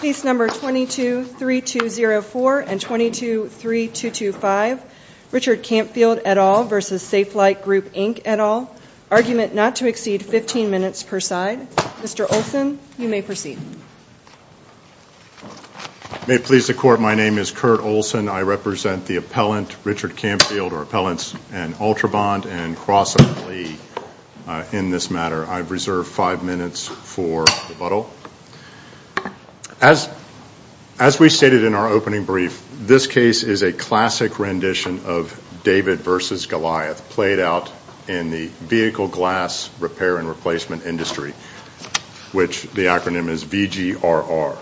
Case number 22-3204 and 22-3225, Richard Campfield et al. v. Safelite Group Inc. et al. Argument not to exceed 15 minutes per side. Mr. Olson, you may proceed. May it please the Court, my name is Kurt Olson. I represent the appellant, Richard Campfield, or appellants and Ultrabond, and Cross and Lee in this matter. I've reserved five minutes for rebuttal. As we stated in our opening brief, this case is a classic rendition of David v. Goliath, played out in the vehicle glass repair and replacement industry, which the acronym is VGRR.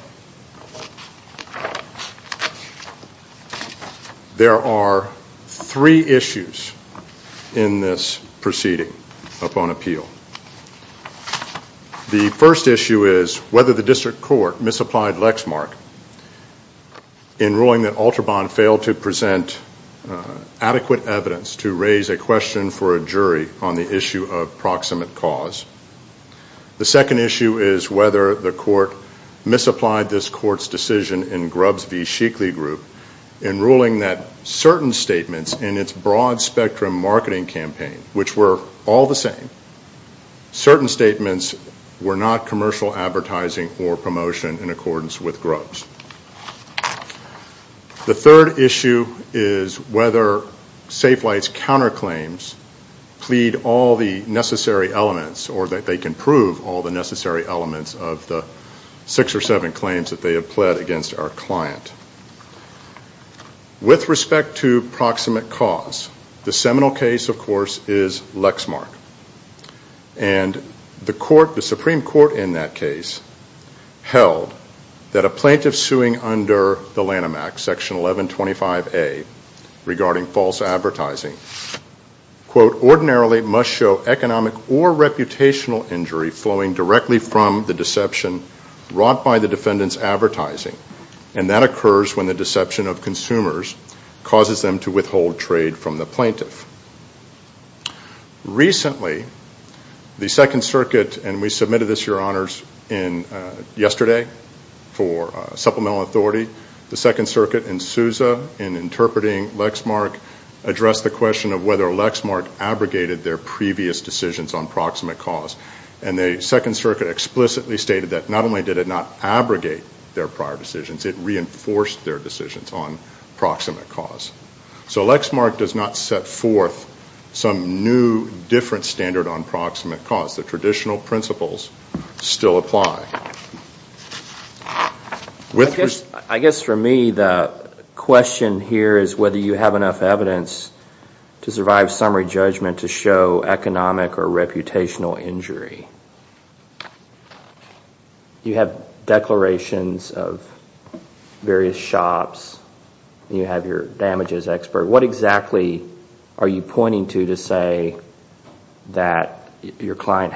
There are three issues in this proceeding upon appeal. The first issue is whether the District Court misapplied Lexmark in ruling that Ultrabond failed to present adequate evidence to raise a question for a jury on the issue of proximate cause. The second issue is whether the Court misapplied this Court's decision in Grubbs v. Sheekley Group in ruling that certain statements in its broad spectrum marketing campaign, which were all the same, certain statements were not commercial advertising or promotion in accordance with Grubbs. The third issue is whether Safelite's counterclaims plead all the necessary elements, or that they can prove all the necessary elements of the six or seven claims that they have pled against our client. With respect to proximate cause, the seminal case, of course, is Lexmark. The Supreme Court in that case held that a plaintiff suing under the Lanham Act, Section 1125A, regarding false advertising, quote, ordinarily must show economic or reputational injury flowing directly from the deception wrought by the defendant's advertising, and that occurs when the deception of consumers causes them to withhold trade from the plaintiff. Recently, the Second Circuit, and we submitted this, Your Honors, yesterday for supplemental authority, the Second Circuit in Sousa, in interpreting Lexmark, addressed the question of whether Lexmark abrogated their previous decisions on proximate cause. And the Second Circuit explicitly stated that not only did it not abrogate their prior decisions, it reinforced their decisions on proximate cause. So Lexmark does not set forth some new, different standard on proximate cause. The traditional principles still apply. I guess for me the question here is whether you have enough evidence to survive summary judgment to show economic or reputational injury. You have declarations of various shops. You have your damages expert. What exactly are you pointing to to say that your client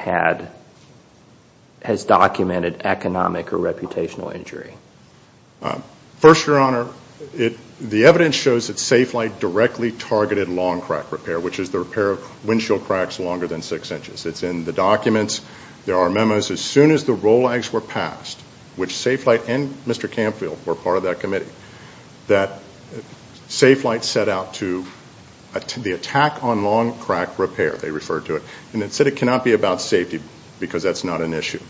has documented economic or reputational injury? First, Your Honor, the evidence shows that SafeLight directly targeted long crack repair, which is the repair of windshield cracks longer than six inches. It's in the documents. There are memos. were passed, which SafeLight and Mr. Campfield were part of that committee, that SafeLight set out to the attack on long crack repair, they referred to it, and it said it cannot be about safety because that's not an issue.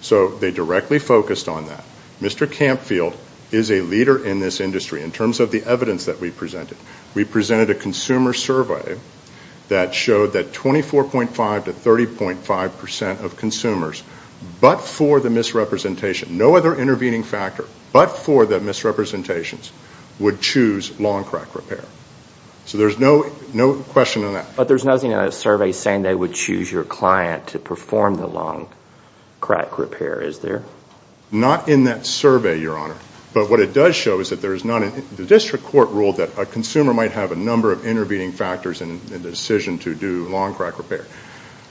So they directly focused on that. Mr. Campfield is a leader in this industry in terms of the evidence that we presented. We presented a consumer survey that showed that 24.5 to 30.5 percent of consumers, but for the misrepresentation, no other intervening factor but for the misrepresentations, would choose long crack repair. So there's no question on that. But there's nothing in that survey saying they would choose your client to perform the long crack repair, is there? Not in that survey, Your Honor. But what it does show is that the district court ruled that a consumer might have a number of intervening factors in the decision to do long crack repair.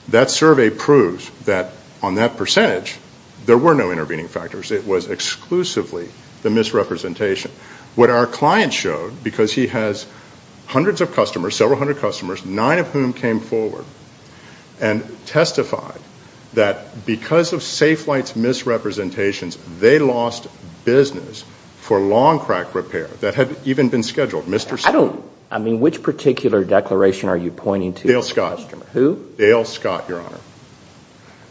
That survey proves that on that percentage, there were no intervening factors. It was exclusively the misrepresentation. What our client showed, because he has hundreds of customers, several hundred customers, nine of whom came forward and testified that because of Safe Flight's misrepresentations, they lost business for long crack repair that had even been scheduled. I mean, which particular declaration are you pointing to? Dale Scott. Who? Dale Scott, Your Honor.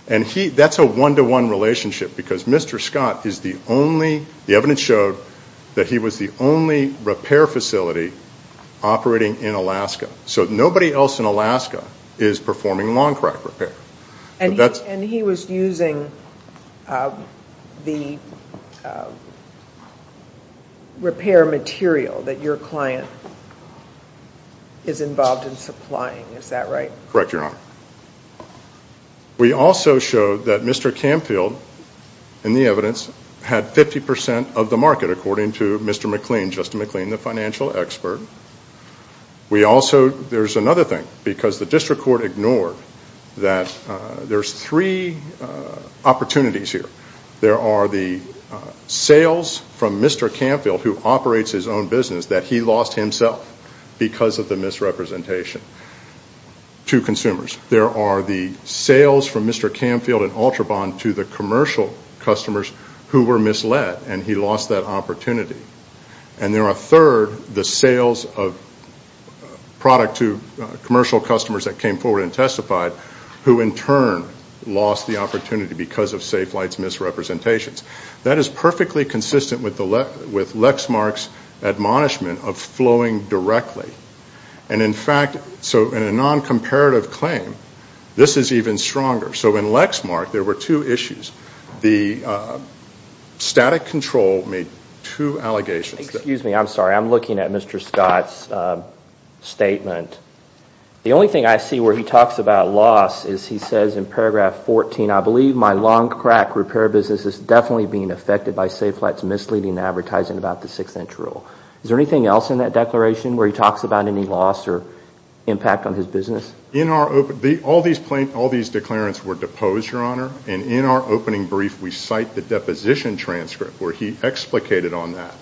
And that's a one-to-one relationship because Mr. Scott is the only, the evidence showed that he was the only repair facility operating in Alaska. So nobody else in Alaska is performing long crack repair. And he was using the repair material that your client is involved in supplying. Is that right? Correct, Your Honor. We also showed that Mr. Camfield, in the evidence, had 50% of the market, according to Mr. McLean, Justin McLean, the financial expert. We also, there's another thing, because the district court ignored that there's three opportunities here. There are the sales from Mr. Camfield, who operates his own business, that he lost himself because of the misrepresentation to consumers. There are the sales from Mr. Camfield and Ultrabond to the commercial customers who were misled, and he lost that opportunity. And there are a third, the sales of product to commercial customers that came forward and testified, who in turn lost the opportunity because of SafeLight's misrepresentations. That is perfectly consistent with Lexmark's admonishment of flowing directly. And in fact, so in a non-comparative claim, this is even stronger. So in Lexmark, there were two issues. The static control made two allegations. Excuse me, I'm sorry. I'm looking at Mr. Scott's statement. The only thing I see where he talks about loss is he says in paragraph 14, I believe my lawn crack repair business is definitely being affected by SafeLight's misleading advertising about the six-inch rule. Is there anything else in that declaration where he talks about any loss or impact on his business? All these declarants were deposed, Your Honor. And in our opening brief, we cite the deposition transcript where he explicated on that.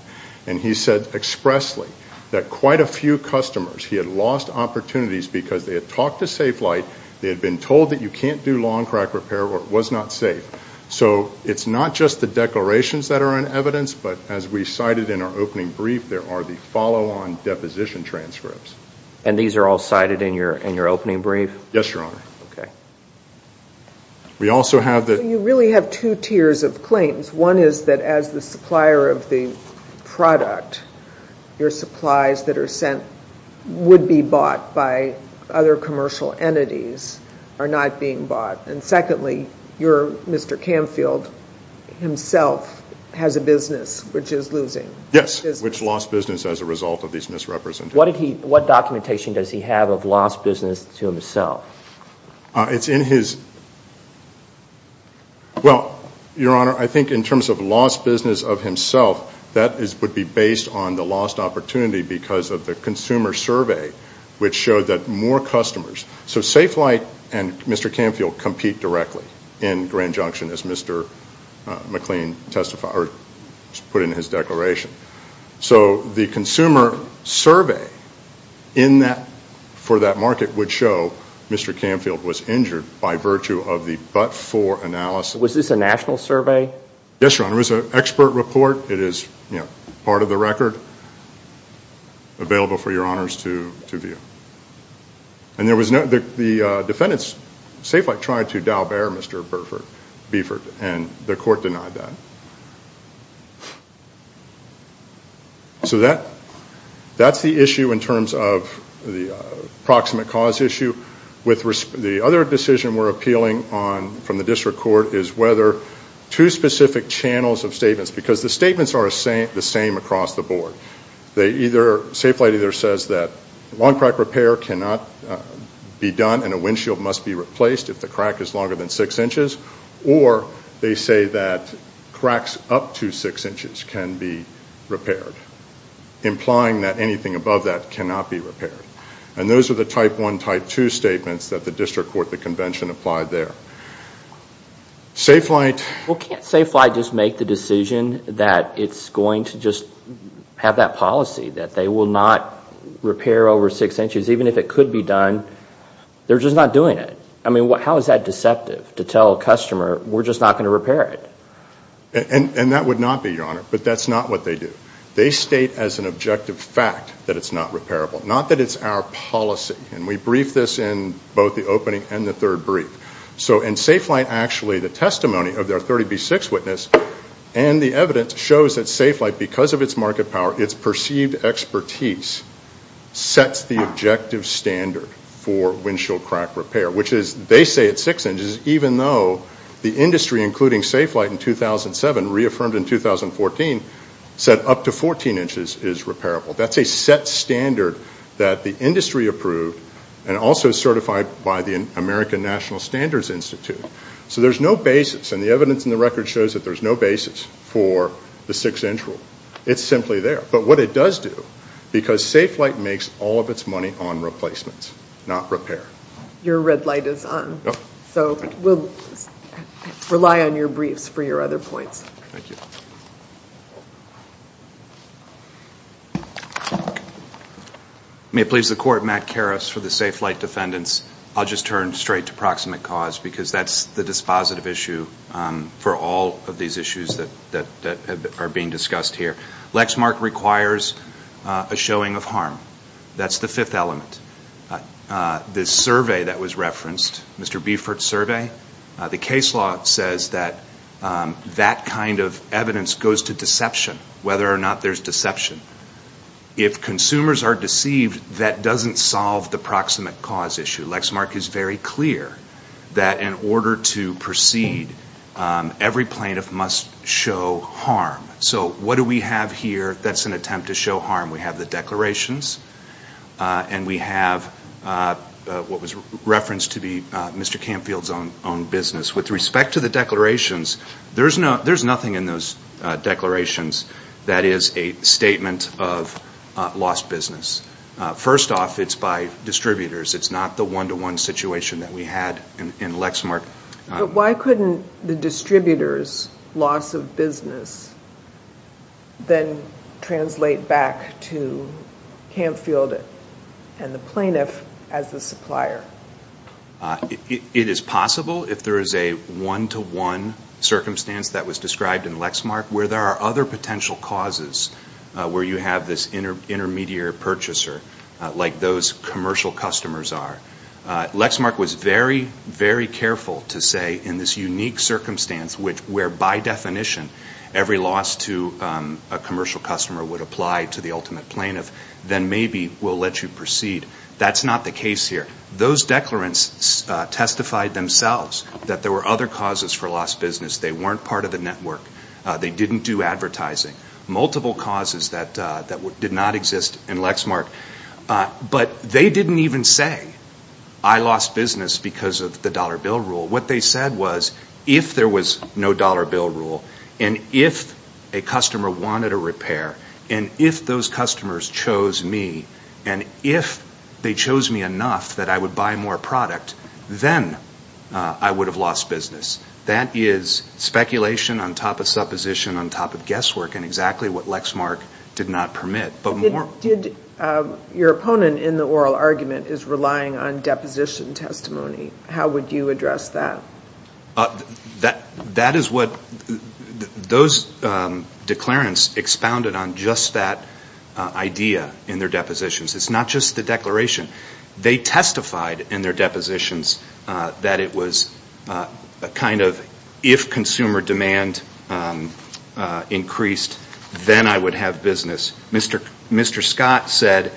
And he said expressly that quite a few customers, he had lost opportunities because they had talked to SafeLight. They had been told that you can't do lawn crack repair or it was not safe. So it's not just the declarations that are in evidence, but as we cited in our opening brief, there are the follow-on deposition transcripts. And these are all cited in your opening brief? Yes, Your Honor. Okay. We also have the... You really have two tiers of claims. One is that as the supplier of the product, your supplies that are sent would be bought by other commercial entities are not being bought. And secondly, your Mr. Canfield himself has a business which is losing. Yes, which lost business as a result of these misrepresentations. What documentation does he have of lost business to himself? It's in his... Well, Your Honor, I think in terms of lost business of himself, that would be based on the lost opportunity because of the consumer survey which showed that more customers... So SafeLight and Mr. Canfield compete directly in Grand Junction as Mr. McLean testified or put in his declaration. So the consumer survey for that market would show Mr. Canfield was injured by virtue of the but-for analysis. Was this a national survey? Yes, Your Honor. It was an expert report. It is part of the record available for Your Honors to view. And there was no... The defendants, SafeLight tried to dowel bear Mr. Burford and the court denied that. So that's the issue in terms of the proximate cause issue. The other decision we're appealing on from the district court is whether two specific channels of statements, because the statements are the same across the board. SafeLight either says that long crack repair cannot be done and a windshield must be replaced if the crack is longer than six inches, or they say that cracks up to six inches can be repaired, implying that anything above that cannot be repaired. And those are the type one, type two statements that the district court, the convention applied there. SafeLight... that they will not repair over six inches, even if it could be done. They're just not doing it. I mean, how is that deceptive to tell a customer we're just not going to repair it? And that would not be, Your Honor, but that's not what they do. They state as an objective fact that it's not repairable, not that it's our policy. And we briefed this in both the opening and the third brief. So in SafeLight, actually, the testimony of their 30B6 witness and the evidence shows that SafeLight, because of its market power, its perceived expertise sets the objective standard for windshield crack repair, which is they say it's six inches, even though the industry, including SafeLight in 2007, reaffirmed in 2014, said up to 14 inches is repairable. That's a set standard that the industry approved and also certified by the American National Standards Institute. So there's no basis, and the evidence in the record shows that there's no basis for the six-inch rule. It's simply there. But what it does do, because SafeLight makes all of its money on replacements, not repair. Your red light is on. So we'll rely on your briefs for your other points. Thank you. May it please the Court, Matt Karas for the SafeLight defendants. I'll just turn straight to proximate cause, because that's the dispositive issue for all of these issues that are being discussed here. Lexmark requires a showing of harm. That's the fifth element. The survey that was referenced, Mr. Biefert's survey, the case law says that that kind of evidence goes to deception, whether or not there's deception. If consumers are deceived, that doesn't solve the proximate cause issue. Lexmark is very clear that in order to proceed, every plaintiff must show harm. So what do we have here that's an attempt to show harm? We have the declarations, and we have what was referenced to be Mr. Canfield's own business. With respect to the declarations, there's nothing in those declarations that is a statement of lost business. First off, it's by distributors. It's not the one-to-one situation that we had in Lexmark. But why couldn't the distributor's loss of business then translate back to Canfield and the plaintiff as the supplier? It is possible if there is a one-to-one circumstance that was described in Lexmark where there are other potential causes where you have this intermediary purchaser, like those commercial customers are. Lexmark was very, very careful to say in this unique circumstance where by definition every loss to a commercial customer would apply to the ultimate plaintiff, then maybe we'll let you proceed. That's not the case here. Those declarants testified themselves that there were other causes for lost business. They weren't part of the network. They didn't do advertising. Multiple causes that did not exist in Lexmark. But they didn't even say, I lost business because of the dollar bill rule. What they said was, if there was no dollar bill rule, and if a customer wanted a repair, and if those customers chose me, and if they chose me enough that I would buy more product, then I would have lost business. That is speculation on top of supposition on top of guesswork, and exactly what Lexmark did not permit. Your opponent in the oral argument is relying on deposition testimony. How would you address that? That is what those declarants expounded on just that idea in their depositions. It's not just the declaration. They testified in their depositions that it was a kind of, if consumer demand increased, then I would have business. Mr. Scott said,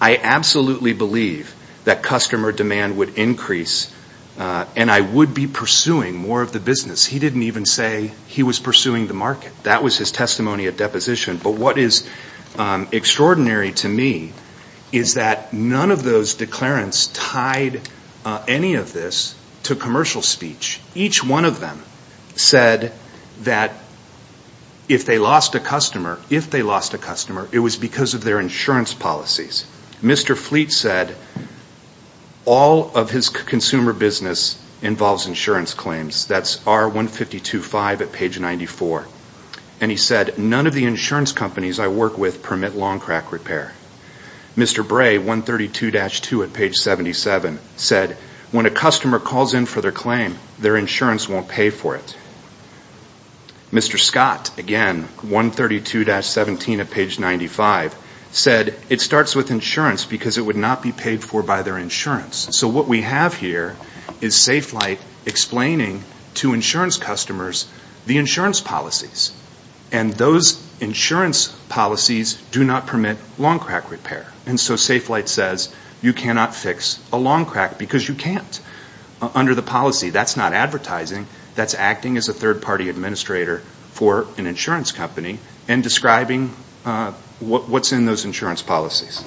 I absolutely believe that customer demand would increase, and I would be pursuing more of the business. He didn't even say he was pursuing the market. That was his testimony at deposition. But what is extraordinary to me is that none of those declarants tied any of this to commercial speech. Each one of them said that if they lost a customer, it was because of their insurance policies. Mr. Fleet said all of his consumer business involves insurance claims. That's R1525 at page 94. And he said none of the insurance companies I work with permit long crack repair. Mr. Bray, 132-2 at page 77, said when a customer calls in for their claim, their insurance won't pay for it. Mr. Scott, again, 132-17 at page 95, said it starts with insurance because it would not be paid for by their insurance. So what we have here is Safe Flight explaining to insurance customers the insurance policies. And those insurance policies do not permit long crack repair. And so Safe Flight says you cannot fix a long crack because you can't. Under the policy, that's not advertising. That's acting as a third-party administrator for an insurance company and describing what's in those insurance policies.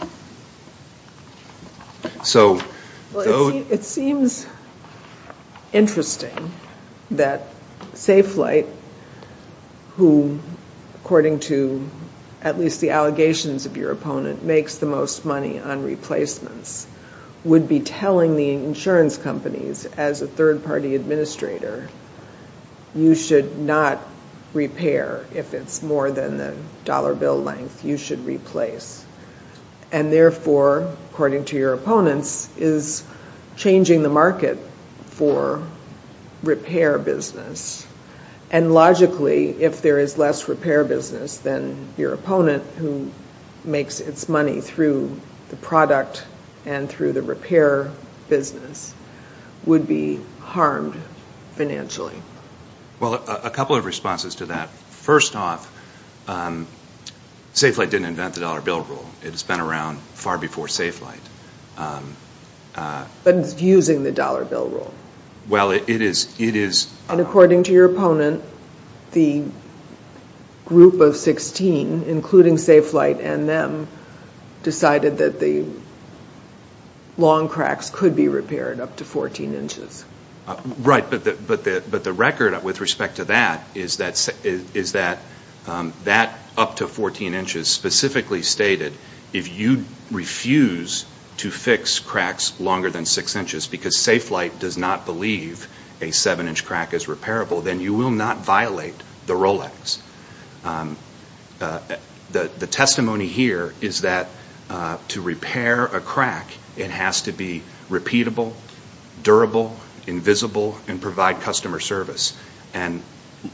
It seems interesting that Safe Flight, who according to at least the allegations of your opponent, makes the most money on replacements, would be telling the insurance companies as a third-party administrator, you should not repair if it's more than the dollar bill length, you should replace. And therefore, according to your opponents, is changing the market for repair business. And logically, if there is less repair business than your opponent, who makes its money through the product and through the repair business, would be harmed financially. Well, a couple of responses to that. First off, Safe Flight didn't invent the dollar bill rule. It has been around far before Safe Flight. But it's using the dollar bill rule. Well, it is. And according to your opponent, the group of 16, including Safe Flight and them, decided that the long cracks could be repaired up to 14 inches. Right, but the record with respect to that, is that that up to 14 inches specifically stated, if you refuse to fix cracks longer than 6 inches, because Safe Flight does not believe a 7-inch crack is repairable, then you will not violate the Rolex. The testimony here is that to repair a crack, it has to be repeatable, durable, invisible, and provide customer service. And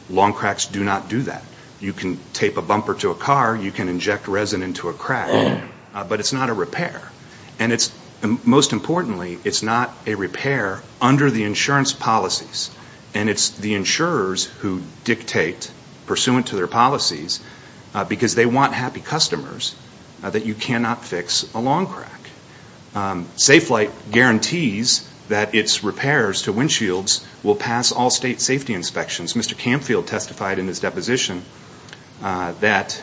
long cracks do not do that. You can tape a bumper to a car. You can inject resin into a crack. But it's not a repair. And most importantly, it's not a repair under the insurance policies. And it's the insurers who dictate, pursuant to their policies, because they want happy customers, that you cannot fix a long crack. Safe Flight guarantees that its repairs to windshields will pass all state safety inspections. Mr. Camfield testified in his deposition that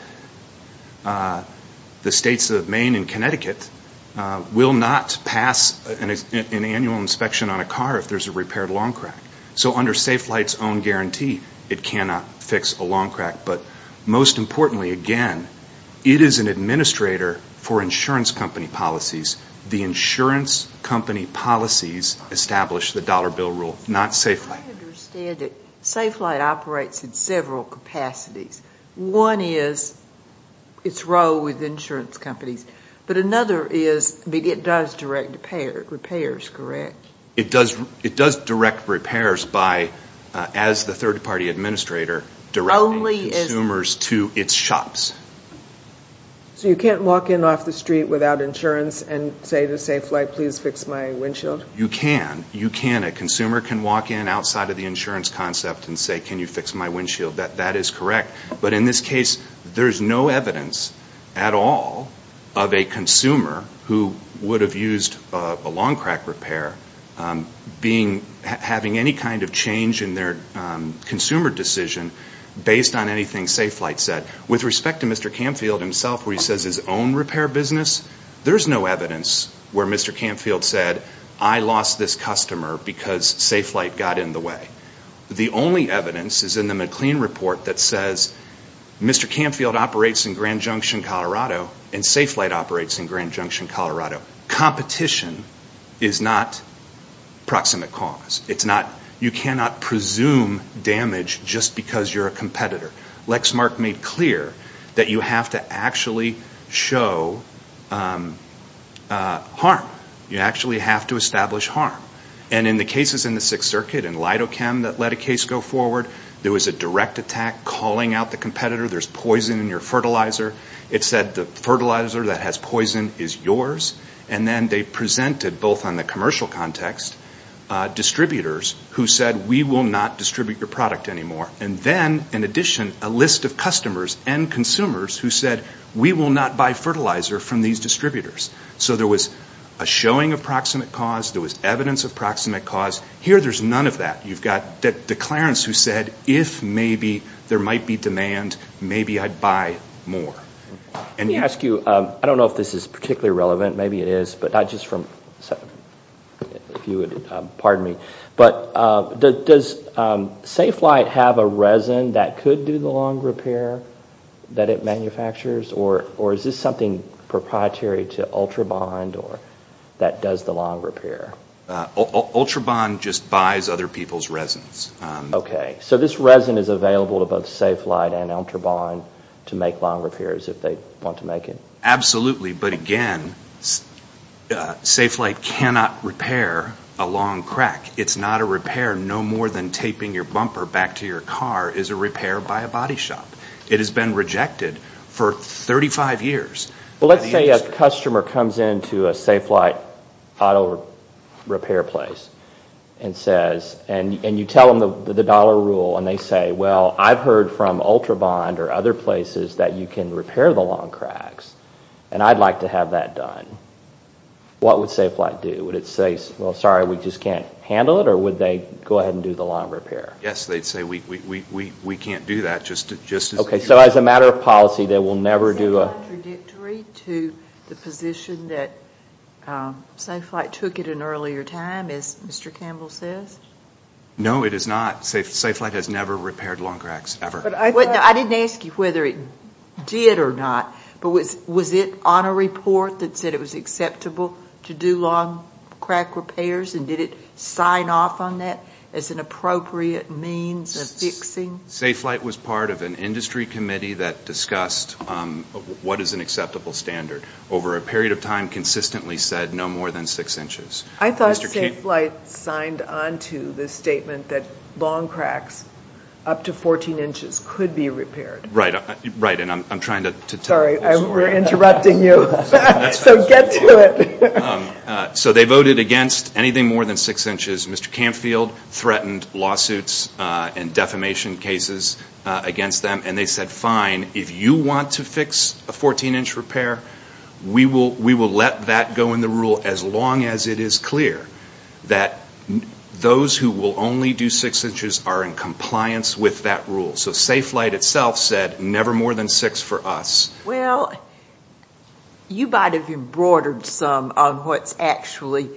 the states of Maine and Connecticut will not pass an annual inspection on a car if there's a repaired long crack. So under Safe Flight's own guarantee, it cannot fix a long crack. But most importantly, again, it is an administrator for insurance company policies. The insurance company policies establish the dollar bill rule, not Safe Flight. I understand that Safe Flight operates in several capacities. One is its role with insurance companies. But another is it does direct repairs, correct? It does direct repairs by, as the third-party administrator, directing consumers to its shops. So you can't walk in off the street without insurance and say to Safe Flight, please fix my windshield? You can. You can. A consumer can walk in outside of the insurance concept and say, can you fix my windshield? That is correct. But in this case, there's no evidence at all of a consumer who would have used a long crack repair, having any kind of change in their consumer decision based on anything Safe Flight said. With respect to Mr. Canfield himself, where he says his own repair business, there's no evidence where Mr. Canfield said, I lost this customer because Safe Flight got in the way. The only evidence is in the McLean report that says Mr. Canfield operates in Grand Junction, Colorado, and Safe Flight operates in Grand Junction, Colorado. Competition is not proximate cause. You cannot presume damage just because you're a competitor. Lexmark made clear that you have to actually show harm. You actually have to establish harm. And in the cases in the Sixth Circuit and Lidochem that let a case go forward, there was a direct attack calling out the competitor. There's poison in your fertilizer. It said the fertilizer that has poison is yours. And then they presented, both on the commercial context, distributors who said, we will not distribute your product anymore. And then, in addition, a list of customers and consumers who said, we will not buy fertilizer from these distributors. So there was a showing of proximate cause. There was evidence of proximate cause. Here, there's none of that. You've got declarants who said, if maybe there might be demand, maybe I'd buy more. Let me ask you, I don't know if this is particularly relevant, maybe it is, but not just from, if you would pardon me, but does Safe Flight have a resin that could do the long repair that it manufactures? Or is this something proprietary to Ultrabond that does the long repair? Ultrabond just buys other people's resins. Okay. So this resin is available to both Safe Flight and Ultrabond to make long repairs if they want to make it? Absolutely. But again, Safe Flight cannot repair a long crack. It's not a repair. No more than taping your bumper back to your car is a repair by a body shop. It has been rejected for 35 years. Well, let's say a customer comes in to a Safe Flight auto repair place and you tell them the dollar rule and they say, well, I've heard from Ultrabond or other places that you can repair the long cracks and I'd like to have that done. What would Safe Flight do? Would it say, well, sorry, we just can't handle it, or would they go ahead and do the long repair? Yes, they'd say, we can't do that. Okay, so as a matter of policy, they will never do a to the position that Safe Flight took at an earlier time, as Mr. Campbell says? No, it is not. Safe Flight has never repaired long cracks, ever. I didn't ask you whether it did or not, but was it on a report that said it was acceptable to do long crack repairs and did it sign off on that as an appropriate means of fixing? Safe Flight was part of an industry committee that discussed what is an acceptable standard over a period of time consistently said no more than six inches. I thought Safe Flight signed on to the statement that long cracks up to 14 inches could be repaired. Right, and I'm trying to tell you. Sorry, we're interrupting you. So get to it. So they voted against anything more than six inches. Mr. Camfield threatened lawsuits and defamation cases against them, and they said, fine, if you want to fix a 14-inch repair, we will let that go in the rule as long as it is clear that those who will only do six inches are in compliance with that rule. So Safe Flight itself said never more than six for us. Well, you might have embroidered some on what's actually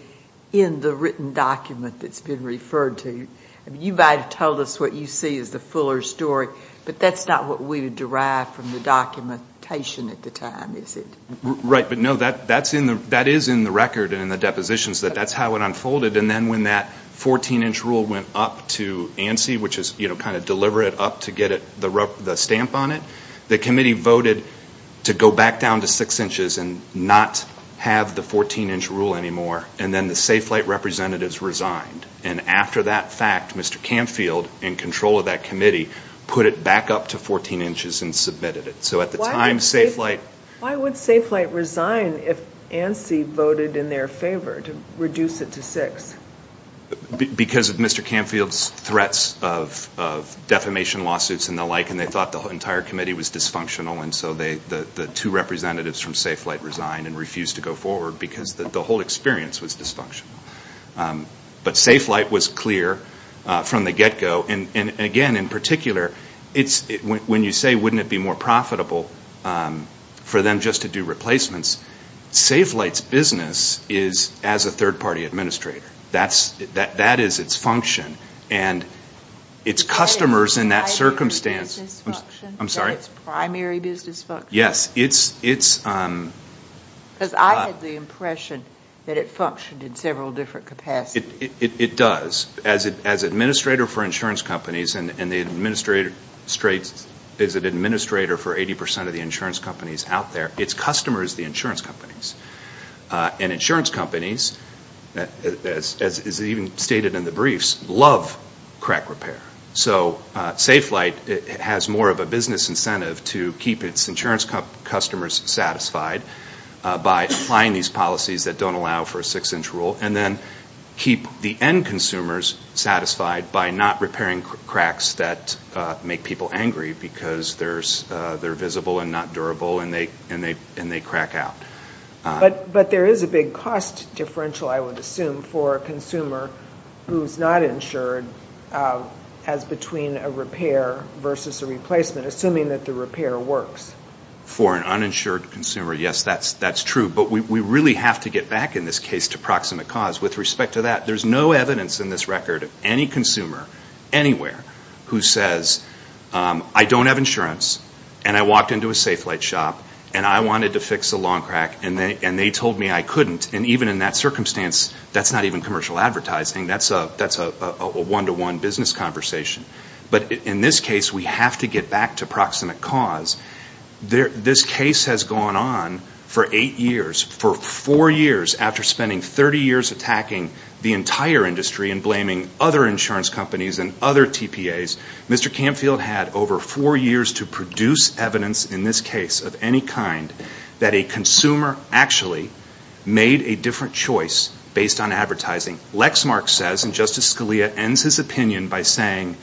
in the written document that's been referred to. You might have told us what you see as the fuller story, but that's not what we would derive from the documentation at the time, is it? Right, but no, that is in the record and in the depositions that that's how it unfolded, and then when that 14-inch rule went up to ANSI, which is kind of deliver it up to get the stamp on it, the committee voted to go back down to six inches and not have the 14-inch rule anymore, and then the Safe Flight representatives resigned. And after that fact, Mr. Camfield, in control of that committee, put it back up to 14 inches and submitted it. So at the time, Safe Flight – Why would Safe Flight resign if ANSI voted in their favor to reduce it to six? Because of Mr. Camfield's threats of defamation lawsuits and the like, and they thought the entire committee was dysfunctional, and so the two representatives from Safe Flight resigned and refused to go forward because the whole experience was dysfunctional. But Safe Flight was clear from the get-go, and again, in particular, when you say, wouldn't it be more profitable for them just to do replacements, Safe Flight's business is as a third-party administrator. That is its function, and its customers in that circumstance – Is that its primary business function? Yes, it's – Because I had the impression that it functioned in several different capacities. It does. As administrator for insurance companies and the administrator for 80 percent of the insurance companies out there, its customers are the insurance companies. And insurance companies, as is even stated in the briefs, love crack repair. So Safe Flight has more of a business incentive to keep its insurance customers satisfied by applying these policies that don't allow for a six-inch rule and then keep the end consumers satisfied by not repairing cracks that make people angry because they're visible and not durable and they crack out. But there is a big cost differential, I would assume, for a consumer who's not insured as between a repair versus a replacement, assuming that the repair works. For an uninsured consumer, yes, that's true. But we really have to get back, in this case, to proximate cause. With respect to that, there's no evidence in this record of any consumer anywhere who says, I don't have insurance and I walked into a Safe Flight shop and I wanted to fix a lawn crack and they told me I couldn't. And even in that circumstance, that's not even commercial advertising. That's a one-to-one business conversation. But in this case, we have to get back to proximate cause. This case has gone on for eight years, for four years, after spending 30 years attacking the entire industry and blaming other insurance companies and other TPAs. Mr. Camfield had over four years to produce evidence in this case of any kind that a consumer actually made a different choice based on advertising. Lexmark says, and Justice Scalia ends his opinion by saying,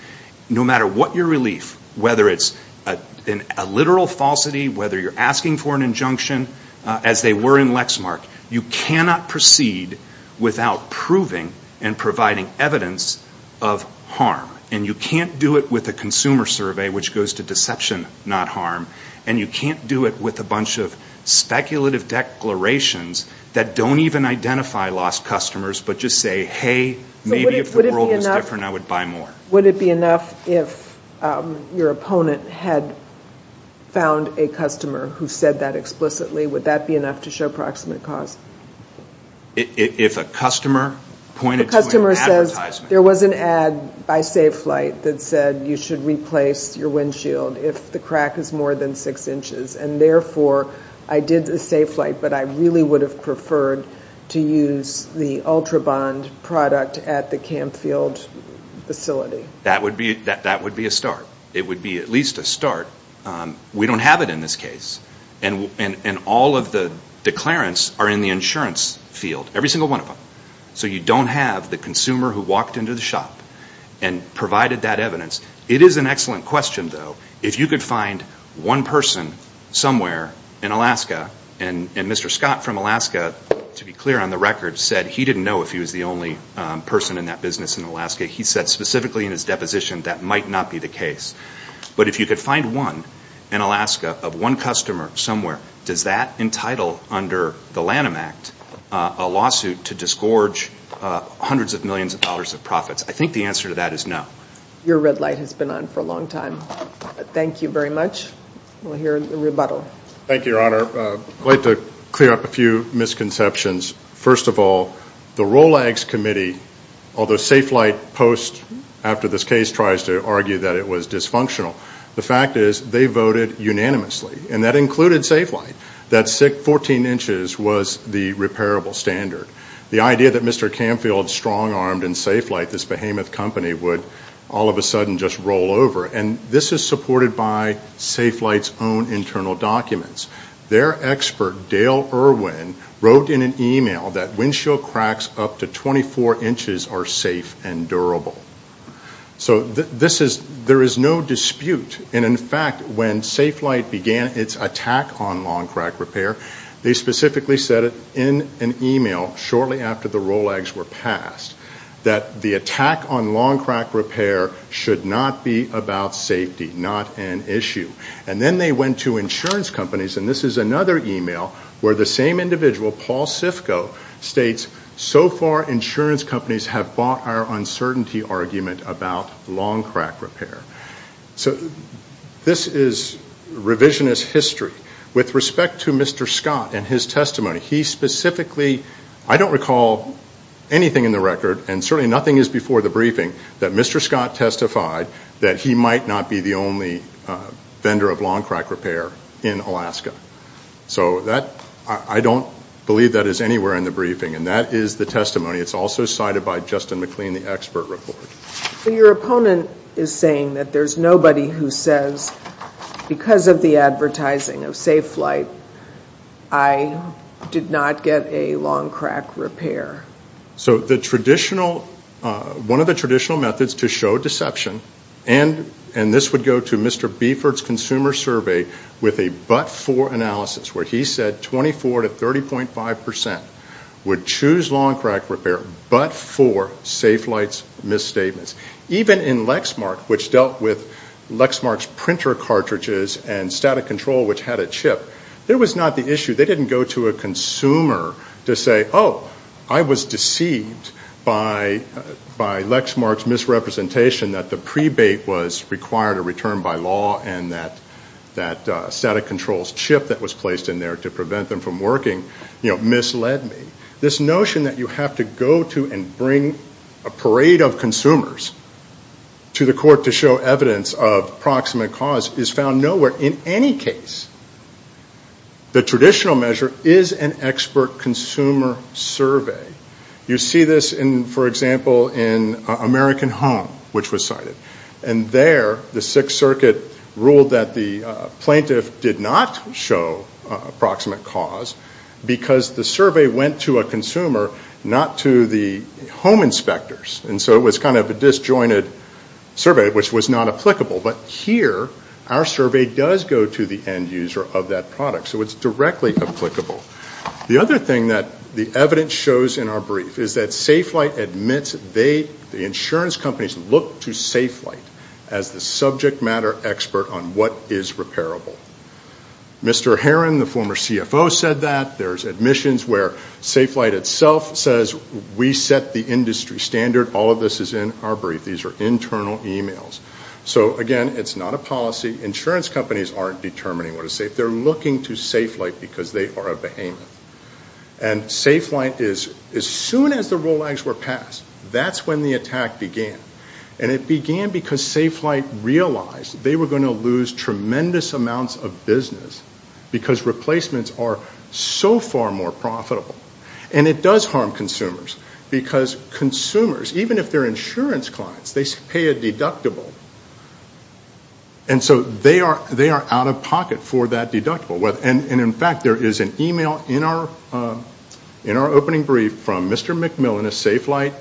no matter what your relief, whether it's a literal falsity, whether you're asking for an injunction, as they were in Lexmark, you cannot proceed without proving and providing evidence of harm. And you can't do it with a consumer survey, which goes to deception, not harm. And you can't do it with a bunch of speculative declarations that don't even identify lost customers, but just say, hey, maybe if the world was different, I would buy more. Would it be enough if your opponent had found a customer who said that explicitly? Would that be enough to show proximate cause? If a customer pointed to an advertisement. There was an ad by Safe Flight that said you should replace your windshield if the crack is more than six inches. And therefore, I did the Safe Flight, but I really would have preferred to use the Ultrabond product at the Camfield facility. That would be a start. It would be at least a start. We don't have it in this case. And all of the declarants are in the insurance field, every single one of them. So you don't have the consumer who walked into the shop and provided that evidence. It is an excellent question, though. If you could find one person somewhere in Alaska, and Mr. Scott from Alaska, to be clear on the record, said he didn't know if he was the only person in that business in Alaska. He said specifically in his deposition that might not be the case. But if you could find one in Alaska of one customer somewhere, does that entitle under the Lanham Act a lawsuit to disgorge hundreds of millions of dollars of profits? I think the answer to that is no. Your red light has been on for a long time. Thank you very much. We'll hear the rebuttal. Thank you, Your Honor. I'd like to clear up a few misconceptions. First of all, the Rolag's committee, although Safe Flight post after this case tries to argue that it was dysfunctional, the fact is they voted unanimously, and that included Safe Flight. That 14 inches was the repairable standard. The idea that Mr. Canfield, strong-armed in Safe Flight, this behemoth company, would all of a sudden just roll over, and this is supported by Safe Flight's own internal documents. Their expert, Dale Irwin, wrote in an email that windshield cracks up to 24 inches are safe and durable. So there is no dispute. In fact, when Safe Flight began its attack on long-crack repair, they specifically said in an email shortly after the Rolag's were passed that the attack on long-crack repair should not be about safety, not an issue. Then they went to insurance companies, and this is another email, where the same individual, Paul Sifko, states, So far insurance companies have bought our uncertainty argument about long-crack repair. So this is revisionist history. With respect to Mr. Scott and his testimony, he specifically, I don't recall anything in the record, and certainly nothing is before the briefing, that Mr. Scott testified that he might not be the only vendor of long-crack repair in Alaska. So I don't believe that is anywhere in the briefing, and that is the testimony. It's also cited by Justin McLean, the expert report. So your opponent is saying that there's nobody who says, because of the advertising of Safe Flight, I did not get a long-crack repair. So one of the traditional methods to show deception, and this would go to Mr. Beeford's consumer survey with a but-for analysis, where he said 24 to 30.5 percent would choose long-crack repair but for Safe Flight's misstatements. Even in Lexmark, which dealt with Lexmark's printer cartridges and static control, which had a chip, there was not the issue. They didn't go to a consumer to say, oh, I was deceived by Lexmark's misrepresentation that the pre-bait was required to return by law and that static control's chip that was placed in there to prevent them from working misled me. This notion that you have to go to and bring a parade of consumers to the court to show evidence of proximate cause is found nowhere in any case. The traditional measure is an expert consumer survey. You see this, for example, in American Home, which was cited. And there, the Sixth Circuit ruled that the plaintiff did not show proximate cause because the survey went to a consumer, not to the home inspectors. And so it was kind of a disjointed survey, which was not applicable. But here, our survey does go to the end user of that product, so it's directly applicable. The other thing that the evidence shows in our brief is that Safe Flight admits they, the insurance companies, look to Safe Flight as the subject matter expert on what is repairable. Mr. Heron, the former CFO, said that. There's admissions where Safe Flight itself says we set the industry standard. All of this is in our brief. These are internal emails. So, again, it's not a policy. Insurance companies aren't determining what is safe. They're looking to Safe Flight because they are a behemoth. And Safe Flight is, as soon as the ROLAGs were passed, that's when the attack began. And it began because Safe Flight realized they were going to lose tremendous amounts of business because replacements are so far more profitable. And it does harm consumers because consumers, even if they're insurance clients, they pay a deductible. And so they are out of pocket for that deductible. And, in fact, there is an email in our opening brief from Mr. McMillan, a Safe Flight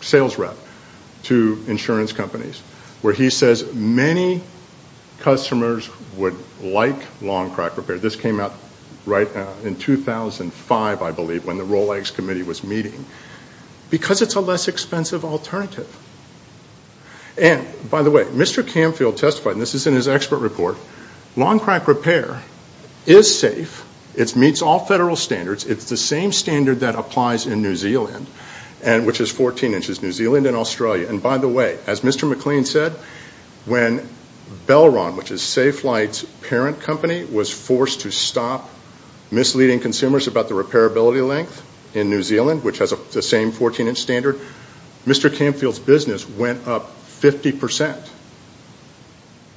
sales rep, to insurance companies where he says many customers would like long crack repair. This came out right in 2005, I believe, when the ROLAGs committee was meeting. Because it's a less expensive alternative. And, by the way, Mr. Camfield testified, and this is in his expert report, long crack repair is safe. It meets all federal standards. It's the same standard that applies in New Zealand, which is 14 inches, New Zealand and Australia. And, by the way, as Mr. McLean said, when Belron, which is Safe Flight's parent company, was forced to stop misleading consumers about the repairability length in New Zealand, which has the same 14-inch standard, Mr. Camfield's business went up 50 percent.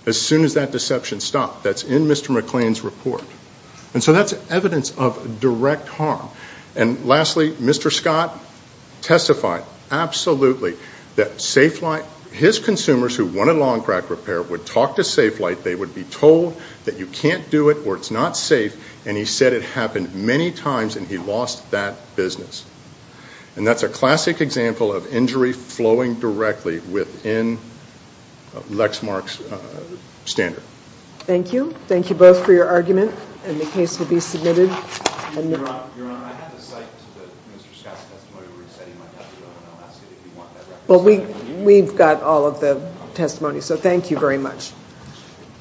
As soon as that deception stopped. That's in Mr. McLean's report. And so that's evidence of direct harm. And, lastly, Mr. Scott testified absolutely that Safe Flight, his consumers who wanted long crack repair would talk to Safe Flight. They would be told that you can't do it or it's not safe. And he said it happened many times, and he lost that business. And that's a classic example of injury flowing directly within Lexmark's standard. Thank you. Thank you both for your argument. And the case will be submitted. Your Honor, I have the cite to the Mr. Scott's testimony where he said he might have to go to Alaska if he wanted that record. Well, we've got all of the testimony, so thank you very much. Thank you.